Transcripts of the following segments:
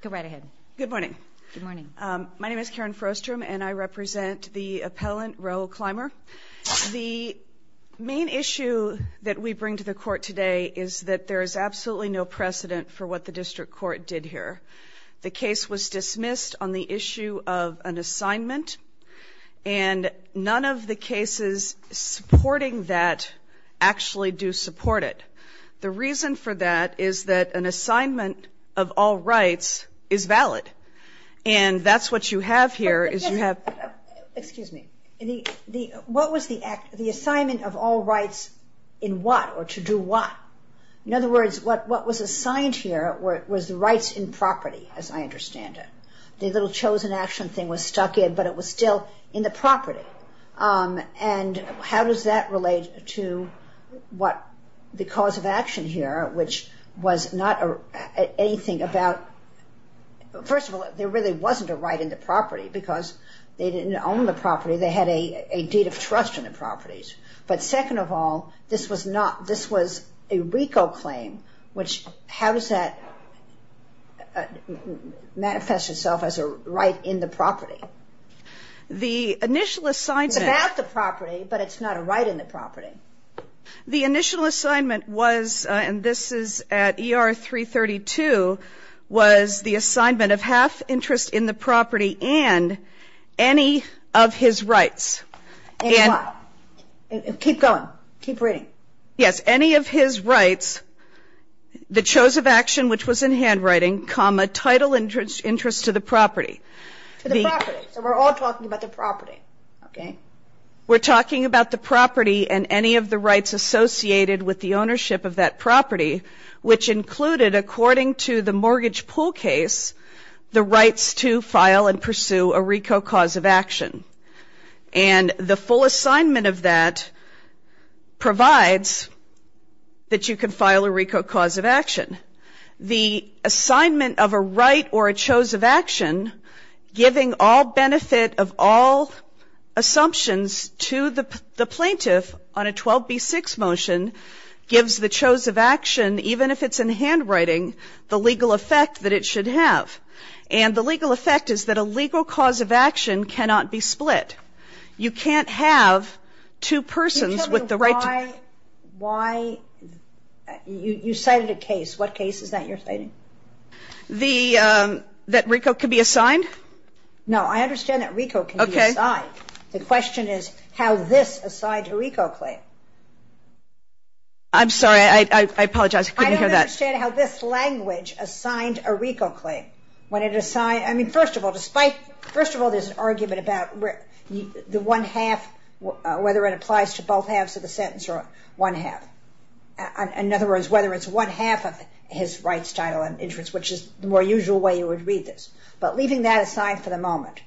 Good morning. My name is Karen Frostrom and I represent the appellant Raoul Clymer. The main issue that we bring to the court today is that there is absolutely no precedent for what the district court did here. The case was dismissed on the issue of an assignment and none of the cases supporting that actually do support it. The reason for that is that an assignment of all rights is valid and that's what you have here is you have Excuse me. What was the assignment of all rights in what or to do what? In other words what was assigned here was the rights in property as I understand it. The little chosen action thing was stuck in but it was still in the property and how does that relate to what the cause of action here which was not anything about first of all there really wasn't a right in the property because they didn't own the property they had a deed of trust in the properties but second of all this was not this was a RICO claim which how does that manifest itself as a right in the property? The initial assignment. It's about the property but it's not a right in the property. The initial assignment was and this is at ER 332 was the assignment of half interest in the property and any of his rights. And what? Keep going. Keep reading. Yes any of his rights the chose of action which was in handwriting comma title interest to the property. To the property. So we're all talking about the property. We're talking about the property and any of the rights associated with the ownership of that property which included according to the mortgage pool case the rights to file and pursue a RICO cause of action. And the full assignment of that provides that you can file a RICO cause of action. The assignment of a right or a chose of action giving all benefit of all assumptions to the plaintiff on a 12b6 motion gives the chose of action even if it's in handwriting the legal effect that it should have. And the legal effect is that a legal cause of action cannot be split. You can't have two persons with the right to. You cited a case. What case is that you're citing? That RICO can be assigned? No I understand that RICO can be assigned. The question is how this assigned a RICO claim. I'm sorry I apologize. I couldn't hear that. I don't understand how this language assigned a RICO claim. When it assigned I mean first of all despite first of all there's an argument about where the one half whether it applies to both halves of the sentence or one half. In other words whether it's one half of his rights title and interest which is the more usual way you would read this. But leaving that aside for the moment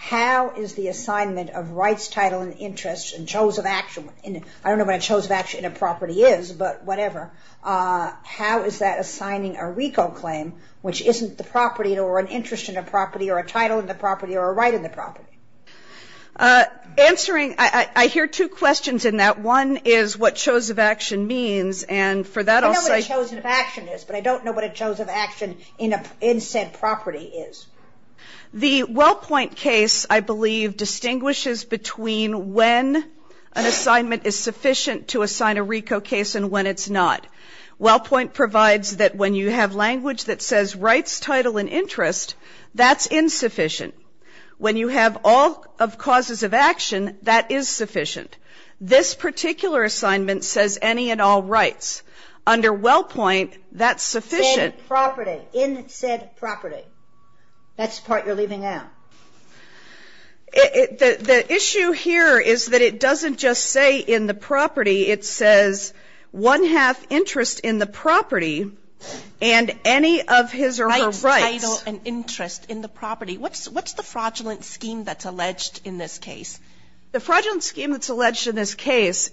how is the assignment of rights title and interest and chose of action. I don't know what a chose of action in a property is but whatever. How is that assigning a RICO claim which isn't the property or an interest in a property or a title in the property or a right in the property. Answering I hear two questions in that one is what chose of action means and for that I'll say I don't know what a chose of action is but I don't know what a chose of action in said property is. The Wellpoint case I believe distinguishes between when an assignment is sufficient to assign a RICO case and when it's not. Wellpoint provides that when you have language that says rights title and interest that's insufficient. When you have all of causes of action that is sufficient. This particular assignment says any and all rights. Under Wellpoint that's sufficient. In said property. That's the part you're leaving out. The issue here is that it doesn't just say in the property it says one half interest in the property and any of his or her rights. Rights title and interest in the property. What's the fraudulent scheme that's in this case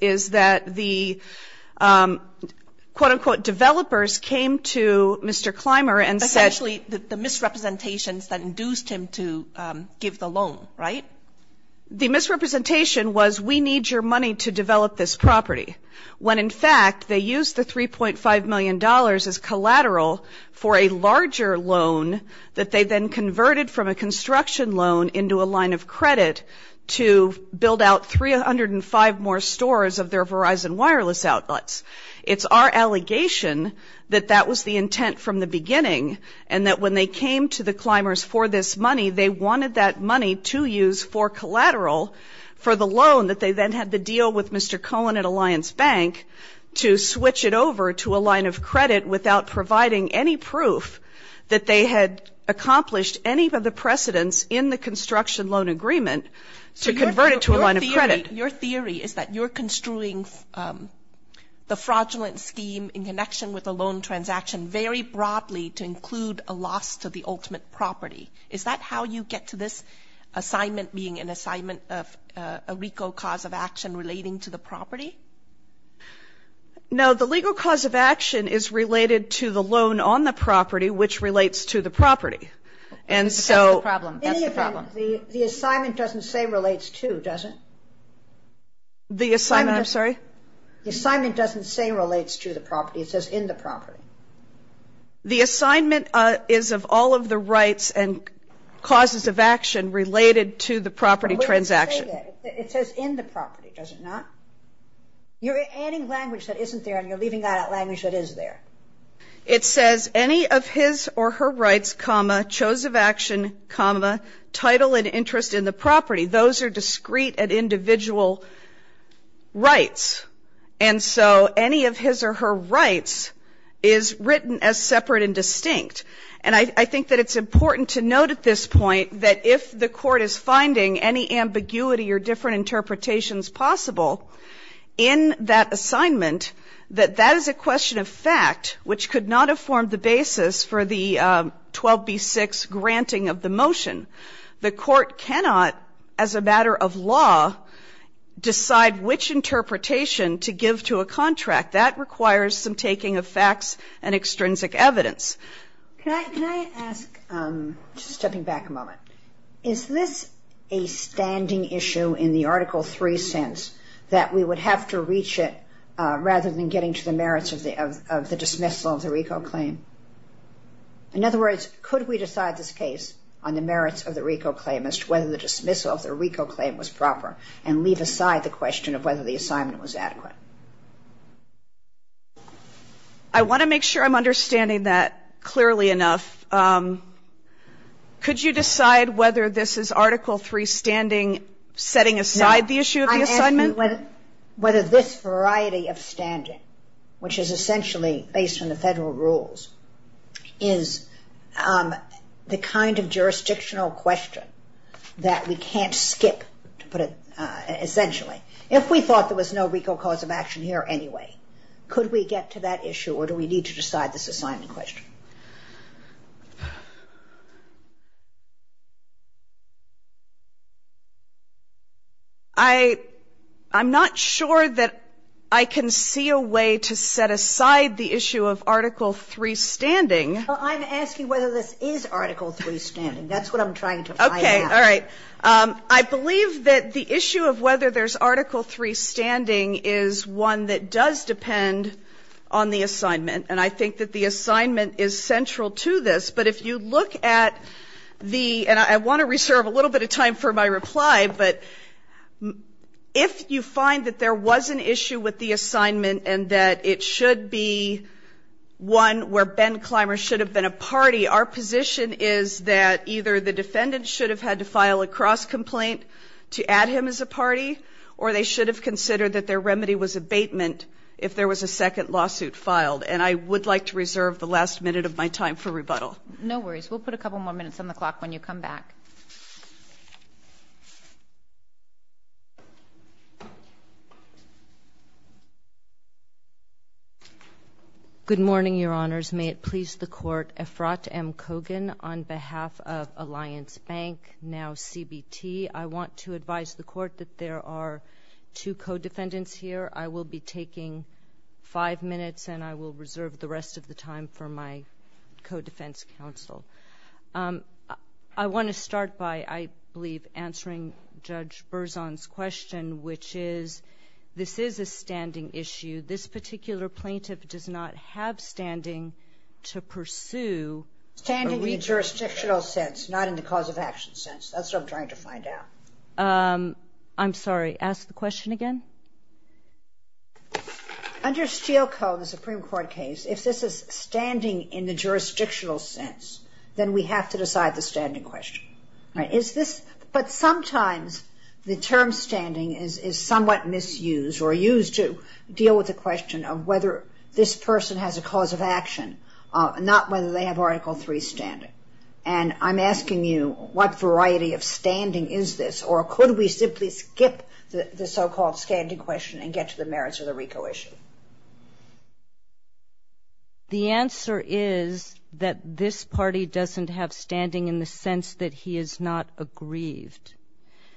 is that the quote unquote developers came to Mr. Clymer and said. Essentially the misrepresentations that induced him to give the loan right? The misrepresentation was we need your money to develop this property. When in fact they used the 3.5 million dollars as collateral for a larger loan that they then converted from a construction loan into a line of credit to build out 305 more stores of their Verizon wireless outlets. It's our allegation that that was the intent from the beginning and that when they came to the Climbers for this money they wanted that money to use for collateral for the loan that they then had to deal with Mr. Cohen at Alliance Bank to switch it over to a line of credit without providing any proof that they had accomplished any of the precedents in the construction loan agreement to convert it to a line of credit. Your theory is that you're construing the fraudulent scheme in connection with a loan transaction very broadly to include a loss to the ultimate property. Is that how you get to this assignment being an assignment of a legal cause of action relating to the property? No, the legal cause of action is related to the loan on the property which relates to the property. And so the assignment doesn't say relates to, does it? The assignment, I'm sorry? The assignment doesn't say relates to the property, it says in the property. The assignment is of all of the rights and causes of action related to the property transaction. It says in the property, does it not? You're adding language that isn't there and you're leaving out language that is there. It says any of his or her rights, chose of action, title and interest in the property. Those are discrete and individual rights. And so any of his or her rights is written as separate and distinct. And I think that it's important to note at this point that if the court is finding any ambiguity or different interpretations possible in that assignment, that that is a question of fact which could not have formed the basis for the 12b-6 granting of the motion. The court cannot, as a matter of law, decide which interpretation to give to a contract. That requires some taking of facts and extrinsic evidence. Can I ask, just stepping back a moment, is this a standing issue in the Article 3 sense that we would have to reach it rather than getting to the merits of the dismissal of the RICO claim? In other words, could we decide this case on the merits of the RICO claim as to whether the dismissal of the RICO claim was proper and leave aside the question of whether the assignment was adequate? I want to make sure I'm understanding that clearly enough. Could you decide whether this is Article 3 standing setting aside the issue of the assignment? I'm asking whether this variety of standing, which is essentially based on the federal rules, is the kind of jurisdictional question that we can't skip, to put it essentially. If we thought there was no RICO cause of action here anyway, could we get to that issue or do we need to decide this assignment question? I'm not sure that I can see a way to set aside the issue of Article 3 standing. Well, I'm asking whether this is Article 3 standing. That's what I'm trying to find out. All right. I believe that the issue of whether there's Article 3 standing is one that does depend on the assignment, and I think that the assignment is central to this. But if you look at the — and I want to reserve a little bit of time for my reply, but if you find that there was an issue with the assignment and that it should be one where Ben Clymer should have been a party, our position is that either the defendant should have had to file a cross-complaint to add him as a party or they should have considered that their remedy was abatement if there was a second lawsuit filed. And I would like to reserve the last minute of my time for rebuttal. No worries. We'll put a couple more minutes on the clock when you come back. Good morning, Your Honors. May it please the Court. Efrat M. Kogan on behalf of Alliance Bank, now CBT. I want to advise the Court that there are two co-defendants here. I will be taking five minutes, and I will reserve the rest of the time for my co-defense counsel. I want to start by, I believe, answering Judge Berzon's question, which is this is a standing issue. This particular plaintiff does not have standing to pursue. Standing in the jurisdictional sense, not in the cause of action sense. That's what I'm trying to find out. I'm sorry. Ask the question again. Under Steele Co., the Supreme Court case, if this is standing in the jurisdictional sense, then we have to decide the standing question. But sometimes the term standing is somewhat misused or used to deal with the question of whether this person has a cause of action, not whether they have Article III standing. And I'm asking you what variety of standing is this, or could we simply skip the so-called standing question and get to the merits of the RICO issue? The answer is that this party doesn't have standing in the sense that he is not aggrieved.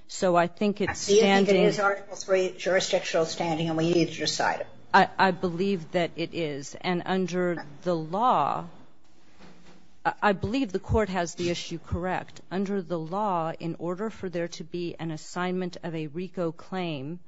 So I think it's standing. I believe it is Article III jurisdictional standing, and we need to decide it. I believe that it is. And under the law, I believe the Court has the issue correct. Under the law, in order for there to be an assignment of a RICO claim,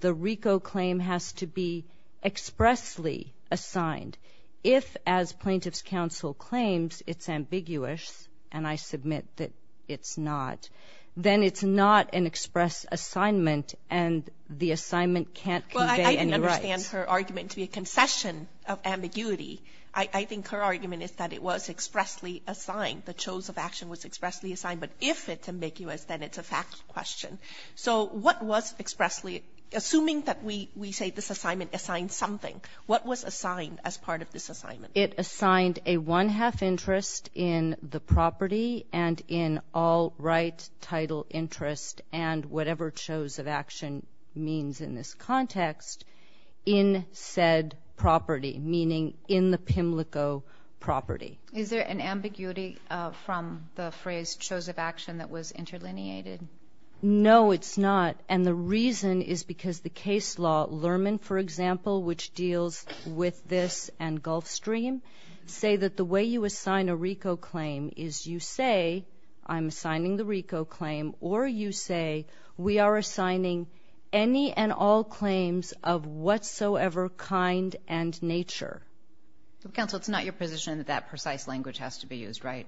the RICO claim has to be expressly assigned. If, as plaintiff's counsel claims, it's ambiguous, and I submit that it's not, then it's not an express assignment, and the assignment can't convey any rights. Well, I understand her argument to be a concession of ambiguity. I think her argument is that it was expressly assigned. The choice of action was expressly assigned. But if it's ambiguous, then it's a fact question. So what was expressly assuming that we say this assignment assigned something, what was assigned as part of this assignment? It assigned a one-half interest in the property and in all right title interest and whatever chose of action means in this context in said property, meaning in the PIMLICO property. Is there an ambiguity from the phrase chose of action that was interlineated? No, it's not. And the reason is because the case law, Lerman, for example, which deals with this and Gulfstream, say that the way you assign a RICO claim is you say I'm assigning the RICO claim or you say we are assigning any and all claims of whatsoever kind and nature. Counsel, it's not your position that that precise language has to be used, right?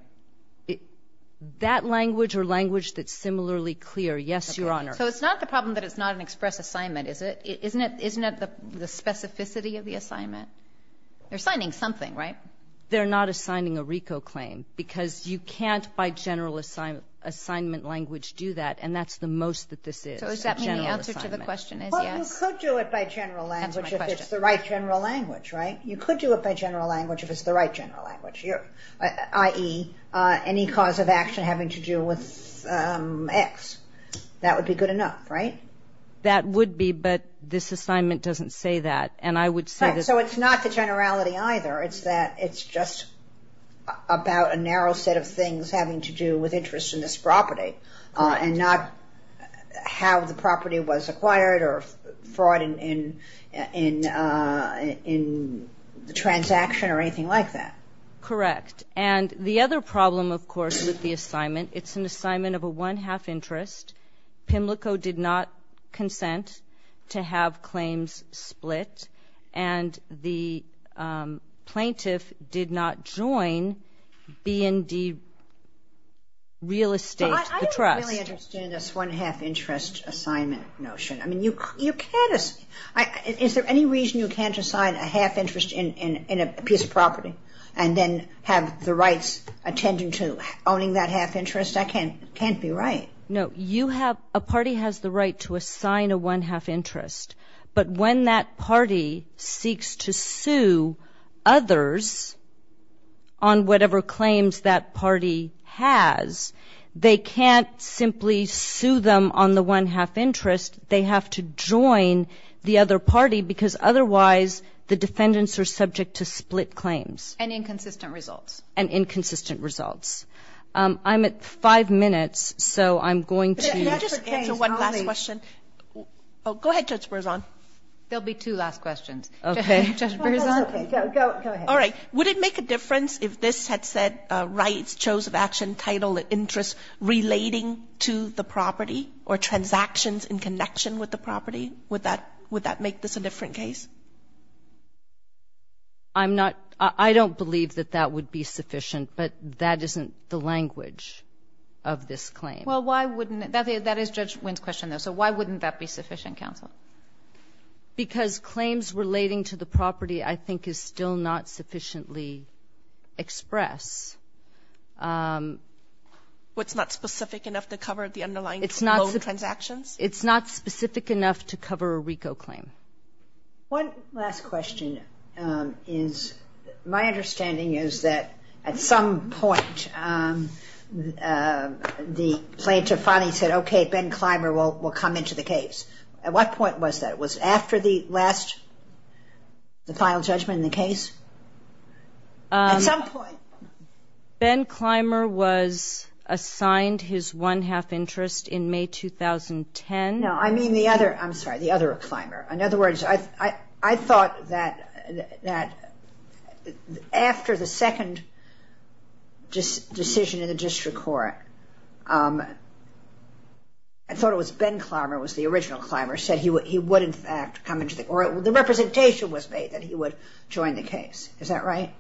That language or language that's similarly clear, yes, Your Honor. So it's not the problem that it's not an express assignment, is it? Isn't it the specificity of the assignment? You're assigning something, right? They're not assigning a RICO claim because you can't by general assignment language do that, and that's the most that this is, general assignment. So does that mean the answer to the question is yes? Well, you could do it by general language if it's the right general language, right? You could do it by general language if it's the right general language, i.e., any cause of action having to do with X. That would be good enough, right? That would be, but this assignment doesn't say that, and I would say that... So it's not the generality either. It's that it's just about a narrow set of things having to do with interest in this property and not how the property was acquired or fraud in the transaction or anything like that. Correct. And the other problem, of course, with the assignment, it's an assignment of a one-half interest. PIMLICO did not consent to have claims split, and the plaintiff did not join B&D Real Estate, the trust. I don't really understand this one-half interest assignment notion. I mean, you can't assign... Is there any reason you can't assign a half interest in a piece of property? And then have the rights attendant to owning that half interest? I can't be right. No, you have... A party has the right to assign a one-half interest, but when that party seeks to sue others on whatever claims that party has, they can't simply sue them on the one-half interest. They have to join the other party because otherwise the defendants are subject to split claims. And inconsistent results. And inconsistent results. I'm at five minutes, so I'm going to... Can I just answer one last question? Go ahead, Judge Berzon. There will be two last questions. Okay. Judge Berzon. Go ahead. All right. Would it make a difference if this had said rights, chose of action, title, interests relating to the property or transactions in connection with the property? Would that make this a different case? I'm not... I don't believe that that would be sufficient, but that isn't the language of this claim. Well, why wouldn't it? That is Judge Wynn's question, though. So why wouldn't that be sufficient, counsel? Because claims relating to the property I think is still not sufficiently expressed. Well, it's not specific enough to cover the underlying transactions? It's not specific enough to cover a RICO claim. One last question is my understanding is that at some point the plaintiff finally said, okay, Ben Clymer will come into the case. At what point was that? Was it after the last, the final judgment in the case? At some point. Ben Clymer was assigned his one-half interest in May 2010. No, I mean the other. I'm sorry, the other Clymer. In other words, I thought that after the second decision in the district court, I thought it was Ben Clymer was the original Clymer, said he would in fact come into the, or the representation was made that he would join the case. Is that right?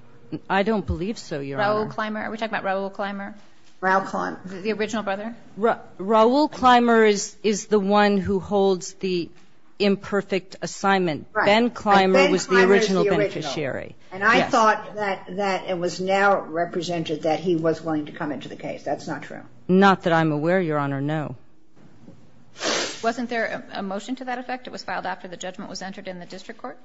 I don't believe so, Your Honor. Raoul Clymer? Are we talking about Raoul Clymer? Raoul Clymer. The original brother? Raoul Clymer is the one who holds the imperfect assignment. Right. Ben Clymer was the original beneficiary. And I thought that it was now represented that he was willing to come into the case. That's not true. Not that I'm aware, Your Honor, no. Wasn't there a motion to that effect? It was filed after the judgment was entered in the district court?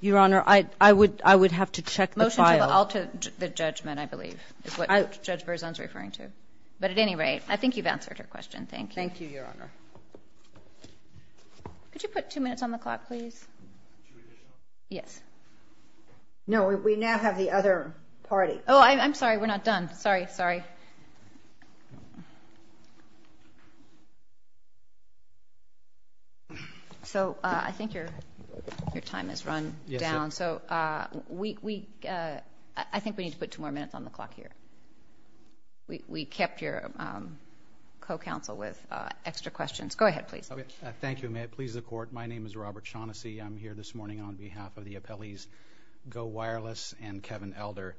Your Honor, I would have to check the file. Motion to alter the judgment, I believe, is what Judge Berzon is referring to. But at any rate, I think you've answered her question. Thank you. Thank you, Your Honor. Could you put two minutes on the clock, please? Yes. No, we now have the other party. Oh, I'm sorry. We're not done. Sorry, sorry. So I think your time has run down. So I think we need to put two more minutes on the clock here. We kept your co-counsel with extra questions. Go ahead, please. Thank you. May it please the Court. My name is Robert Shaughnessy. I'm here this morning on behalf of the appellees Go Wireless and Kevin Elder.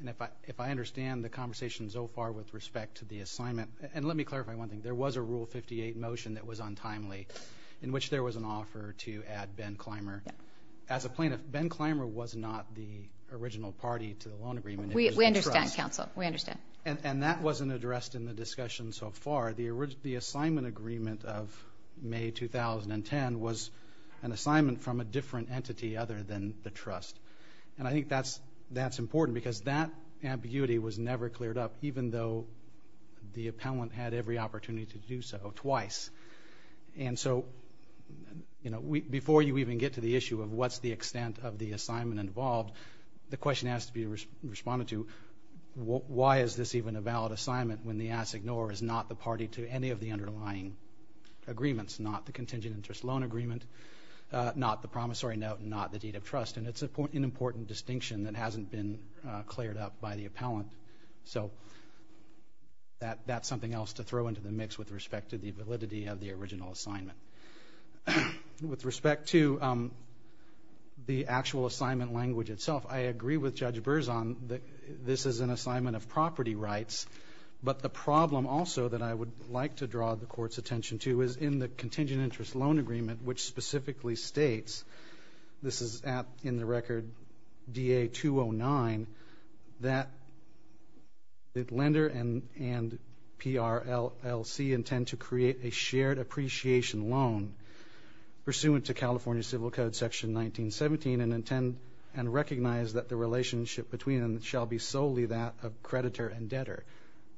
And if I understand the conversation so far with respect to the assignment and let me clarify one thing. There was a Rule 58 motion that was untimely in which there was an offer to add Ben Clymer. As a plaintiff, Ben Clymer was not the original party to the loan agreement. We understand, counsel. We understand. And that wasn't addressed in the discussion so far. The assignment agreement of May 2010 was an assignment from a different entity other than the trust. And I think that's important because that ambiguity was never cleared up, even though the appellant had every opportunity to do so twice. And so, you know, before you even get to the issue of what's the extent of the assignment involved, the question has to be responded to, why is this even a valid assignment when the assignor is not the party to any of the underlying agreements, not the contingent interest loan agreement, not the promissory note, not the deed of trust. And it's an important distinction that hasn't been cleared up by the appellant. So that's something else to throw into the mix with respect to the validity of the original assignment. With respect to the actual assignment language itself, I agree with Judge Berzon that this is an assignment of property rights. But the problem also that I would like to draw the Court's attention to is in the contingent interest loan agreement, which specifically states, this is in the record DA-209, that the lender and PRLC intend to create a shared appreciation loan, pursuant to California Civil Code Section 1917, and intend and recognize that the relationship between them shall be solely that of creditor and debtor.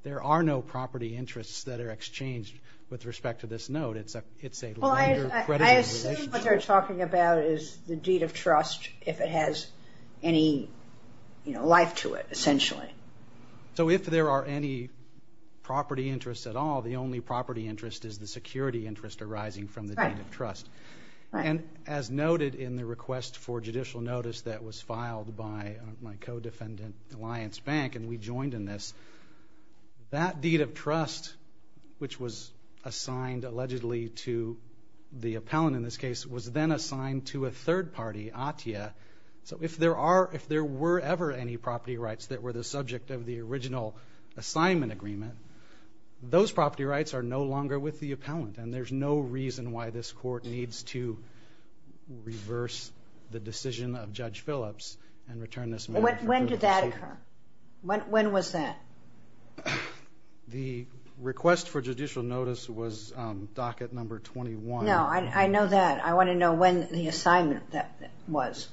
There are no property interests that are exchanged with respect to this note. It's a lender-creditor relationship. Well, I assume what they're talking about is the deed of trust, if it has any life to it, essentially. So if there are any property interests at all, the only property interest is the security interest arising from the deed of trust. Right. And as noted in the request for judicial notice that was filed by my co-defendant, Alliance Bank, and we joined in this, that deed of trust, which was assigned allegedly to the appellant in this case, was then assigned to a third party, ATIA. So if there were ever any property rights that were the subject of the original assignment agreement, those property rights are no longer with the appellant, and there's no reason why this court needs to reverse the decision of Judge Phillips and return this matter. When did that occur? When was that? The request for judicial notice was docket number 21. No, I know that. I want to know when the assignment was.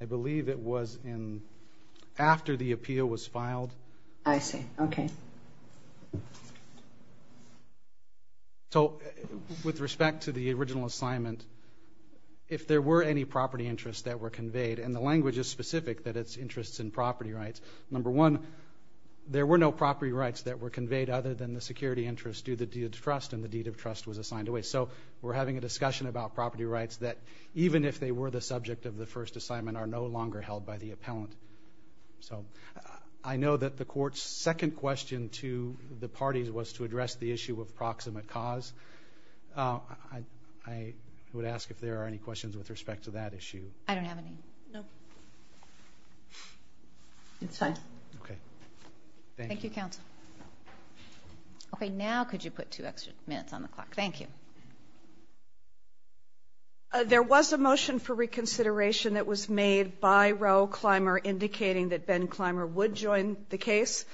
I believe it was after the appeal was filed. I see. Okay. So with respect to the original assignment, if there were any property interests that were conveyed, and the language is specific that it's interests in property rights, number one, there were no property rights that were conveyed other than the security interest due to the deed of trust, and the deed of trust was assigned away. So we're having a discussion about property rights that, even if they were the subject of the first assignment, are no longer held by the appellant. So I know that the court's second question to the parties was to address the issue of proximate cause. I would ask if there are any questions with respect to that issue. I don't have any. No. Okay. Thank you. Thank you, counsel. Okay, now could you put two extra minutes on the clock? Thank you. There was a motion for reconsideration that was made by Raoul Kleimer, indicating that Ben Kleimer would join the case.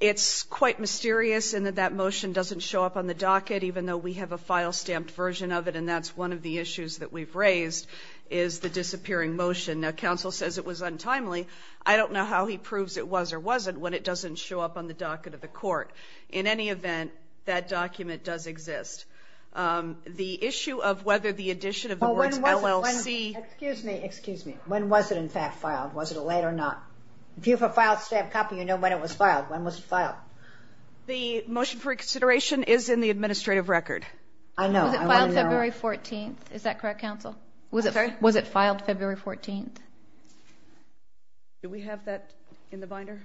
It's quite mysterious in that that motion doesn't show up on the docket, even though we have a file-stamped version of it, and that's one of the issues that we've raised, is the disappearing motion. Now, counsel says it was untimely. I don't know how he proves it was or wasn't when it doesn't show up on the docket of the court. In any event, that document does exist. The issue of whether the addition of the words LLC. Excuse me. Excuse me. When was it, in fact, filed? Was it late or not? If you have a file-stamped copy, you know when it was filed. When was it filed? The motion for reconsideration is in the administrative record. I know. Was it filed February 14th? Is that correct, counsel? I'm sorry? Was it filed February 14th? Do we have that in the binder?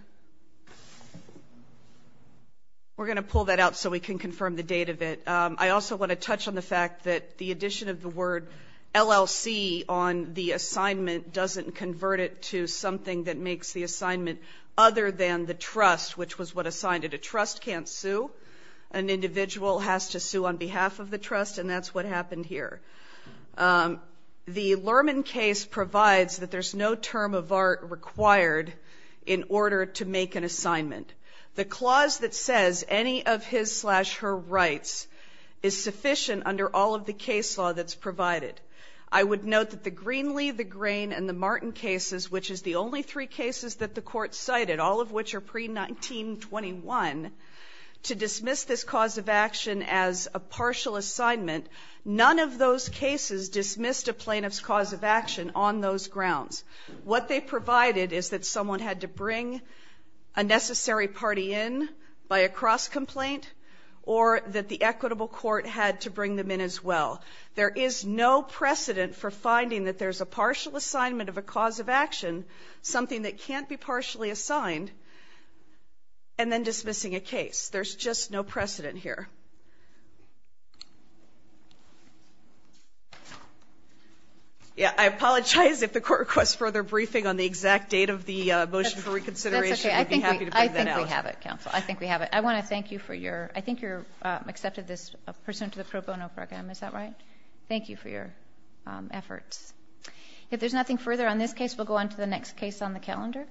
We're going to pull that out so we can confirm the date of it. I also want to touch on the fact that the addition of the word LLC on the assignment doesn't convert it to something that makes the assignment other than the trust, which was what assigned it. A trust can't sue. An individual has to sue on behalf of the trust, and that's what happened here. The Lerman case provides that there's no term of art required in order to make an assignment. The clause that says any of his-slash-her rights is sufficient under all of the case law that's provided. I would note that the Greenlee, the Grain, and the Martin cases, which is the only three cases that the court cited, all of which are pre-1921, to dismiss this cause of action as a partial assignment, none of those cases dismissed a plaintiff's cause of action on those grounds. What they provided is that someone had to bring a necessary party in by a cross-complaint or that the equitable court had to bring them in as well. There is no precedent for finding that there's a partial assignment of a cause of action, something that can't be partially assigned, and then dismissing a case. There's just no precedent here. I apologize if the court requests further briefing on the exact date of the motion for reconsideration. We'd be happy to bring that out. That's okay. I think we have it, counsel. I think we have it. I want to thank you for your-I think you accepted this pursuant to the pro bono program. Is that right? Thank you for your efforts. If there's nothing further on this case, we'll go on to the next case on the calendar.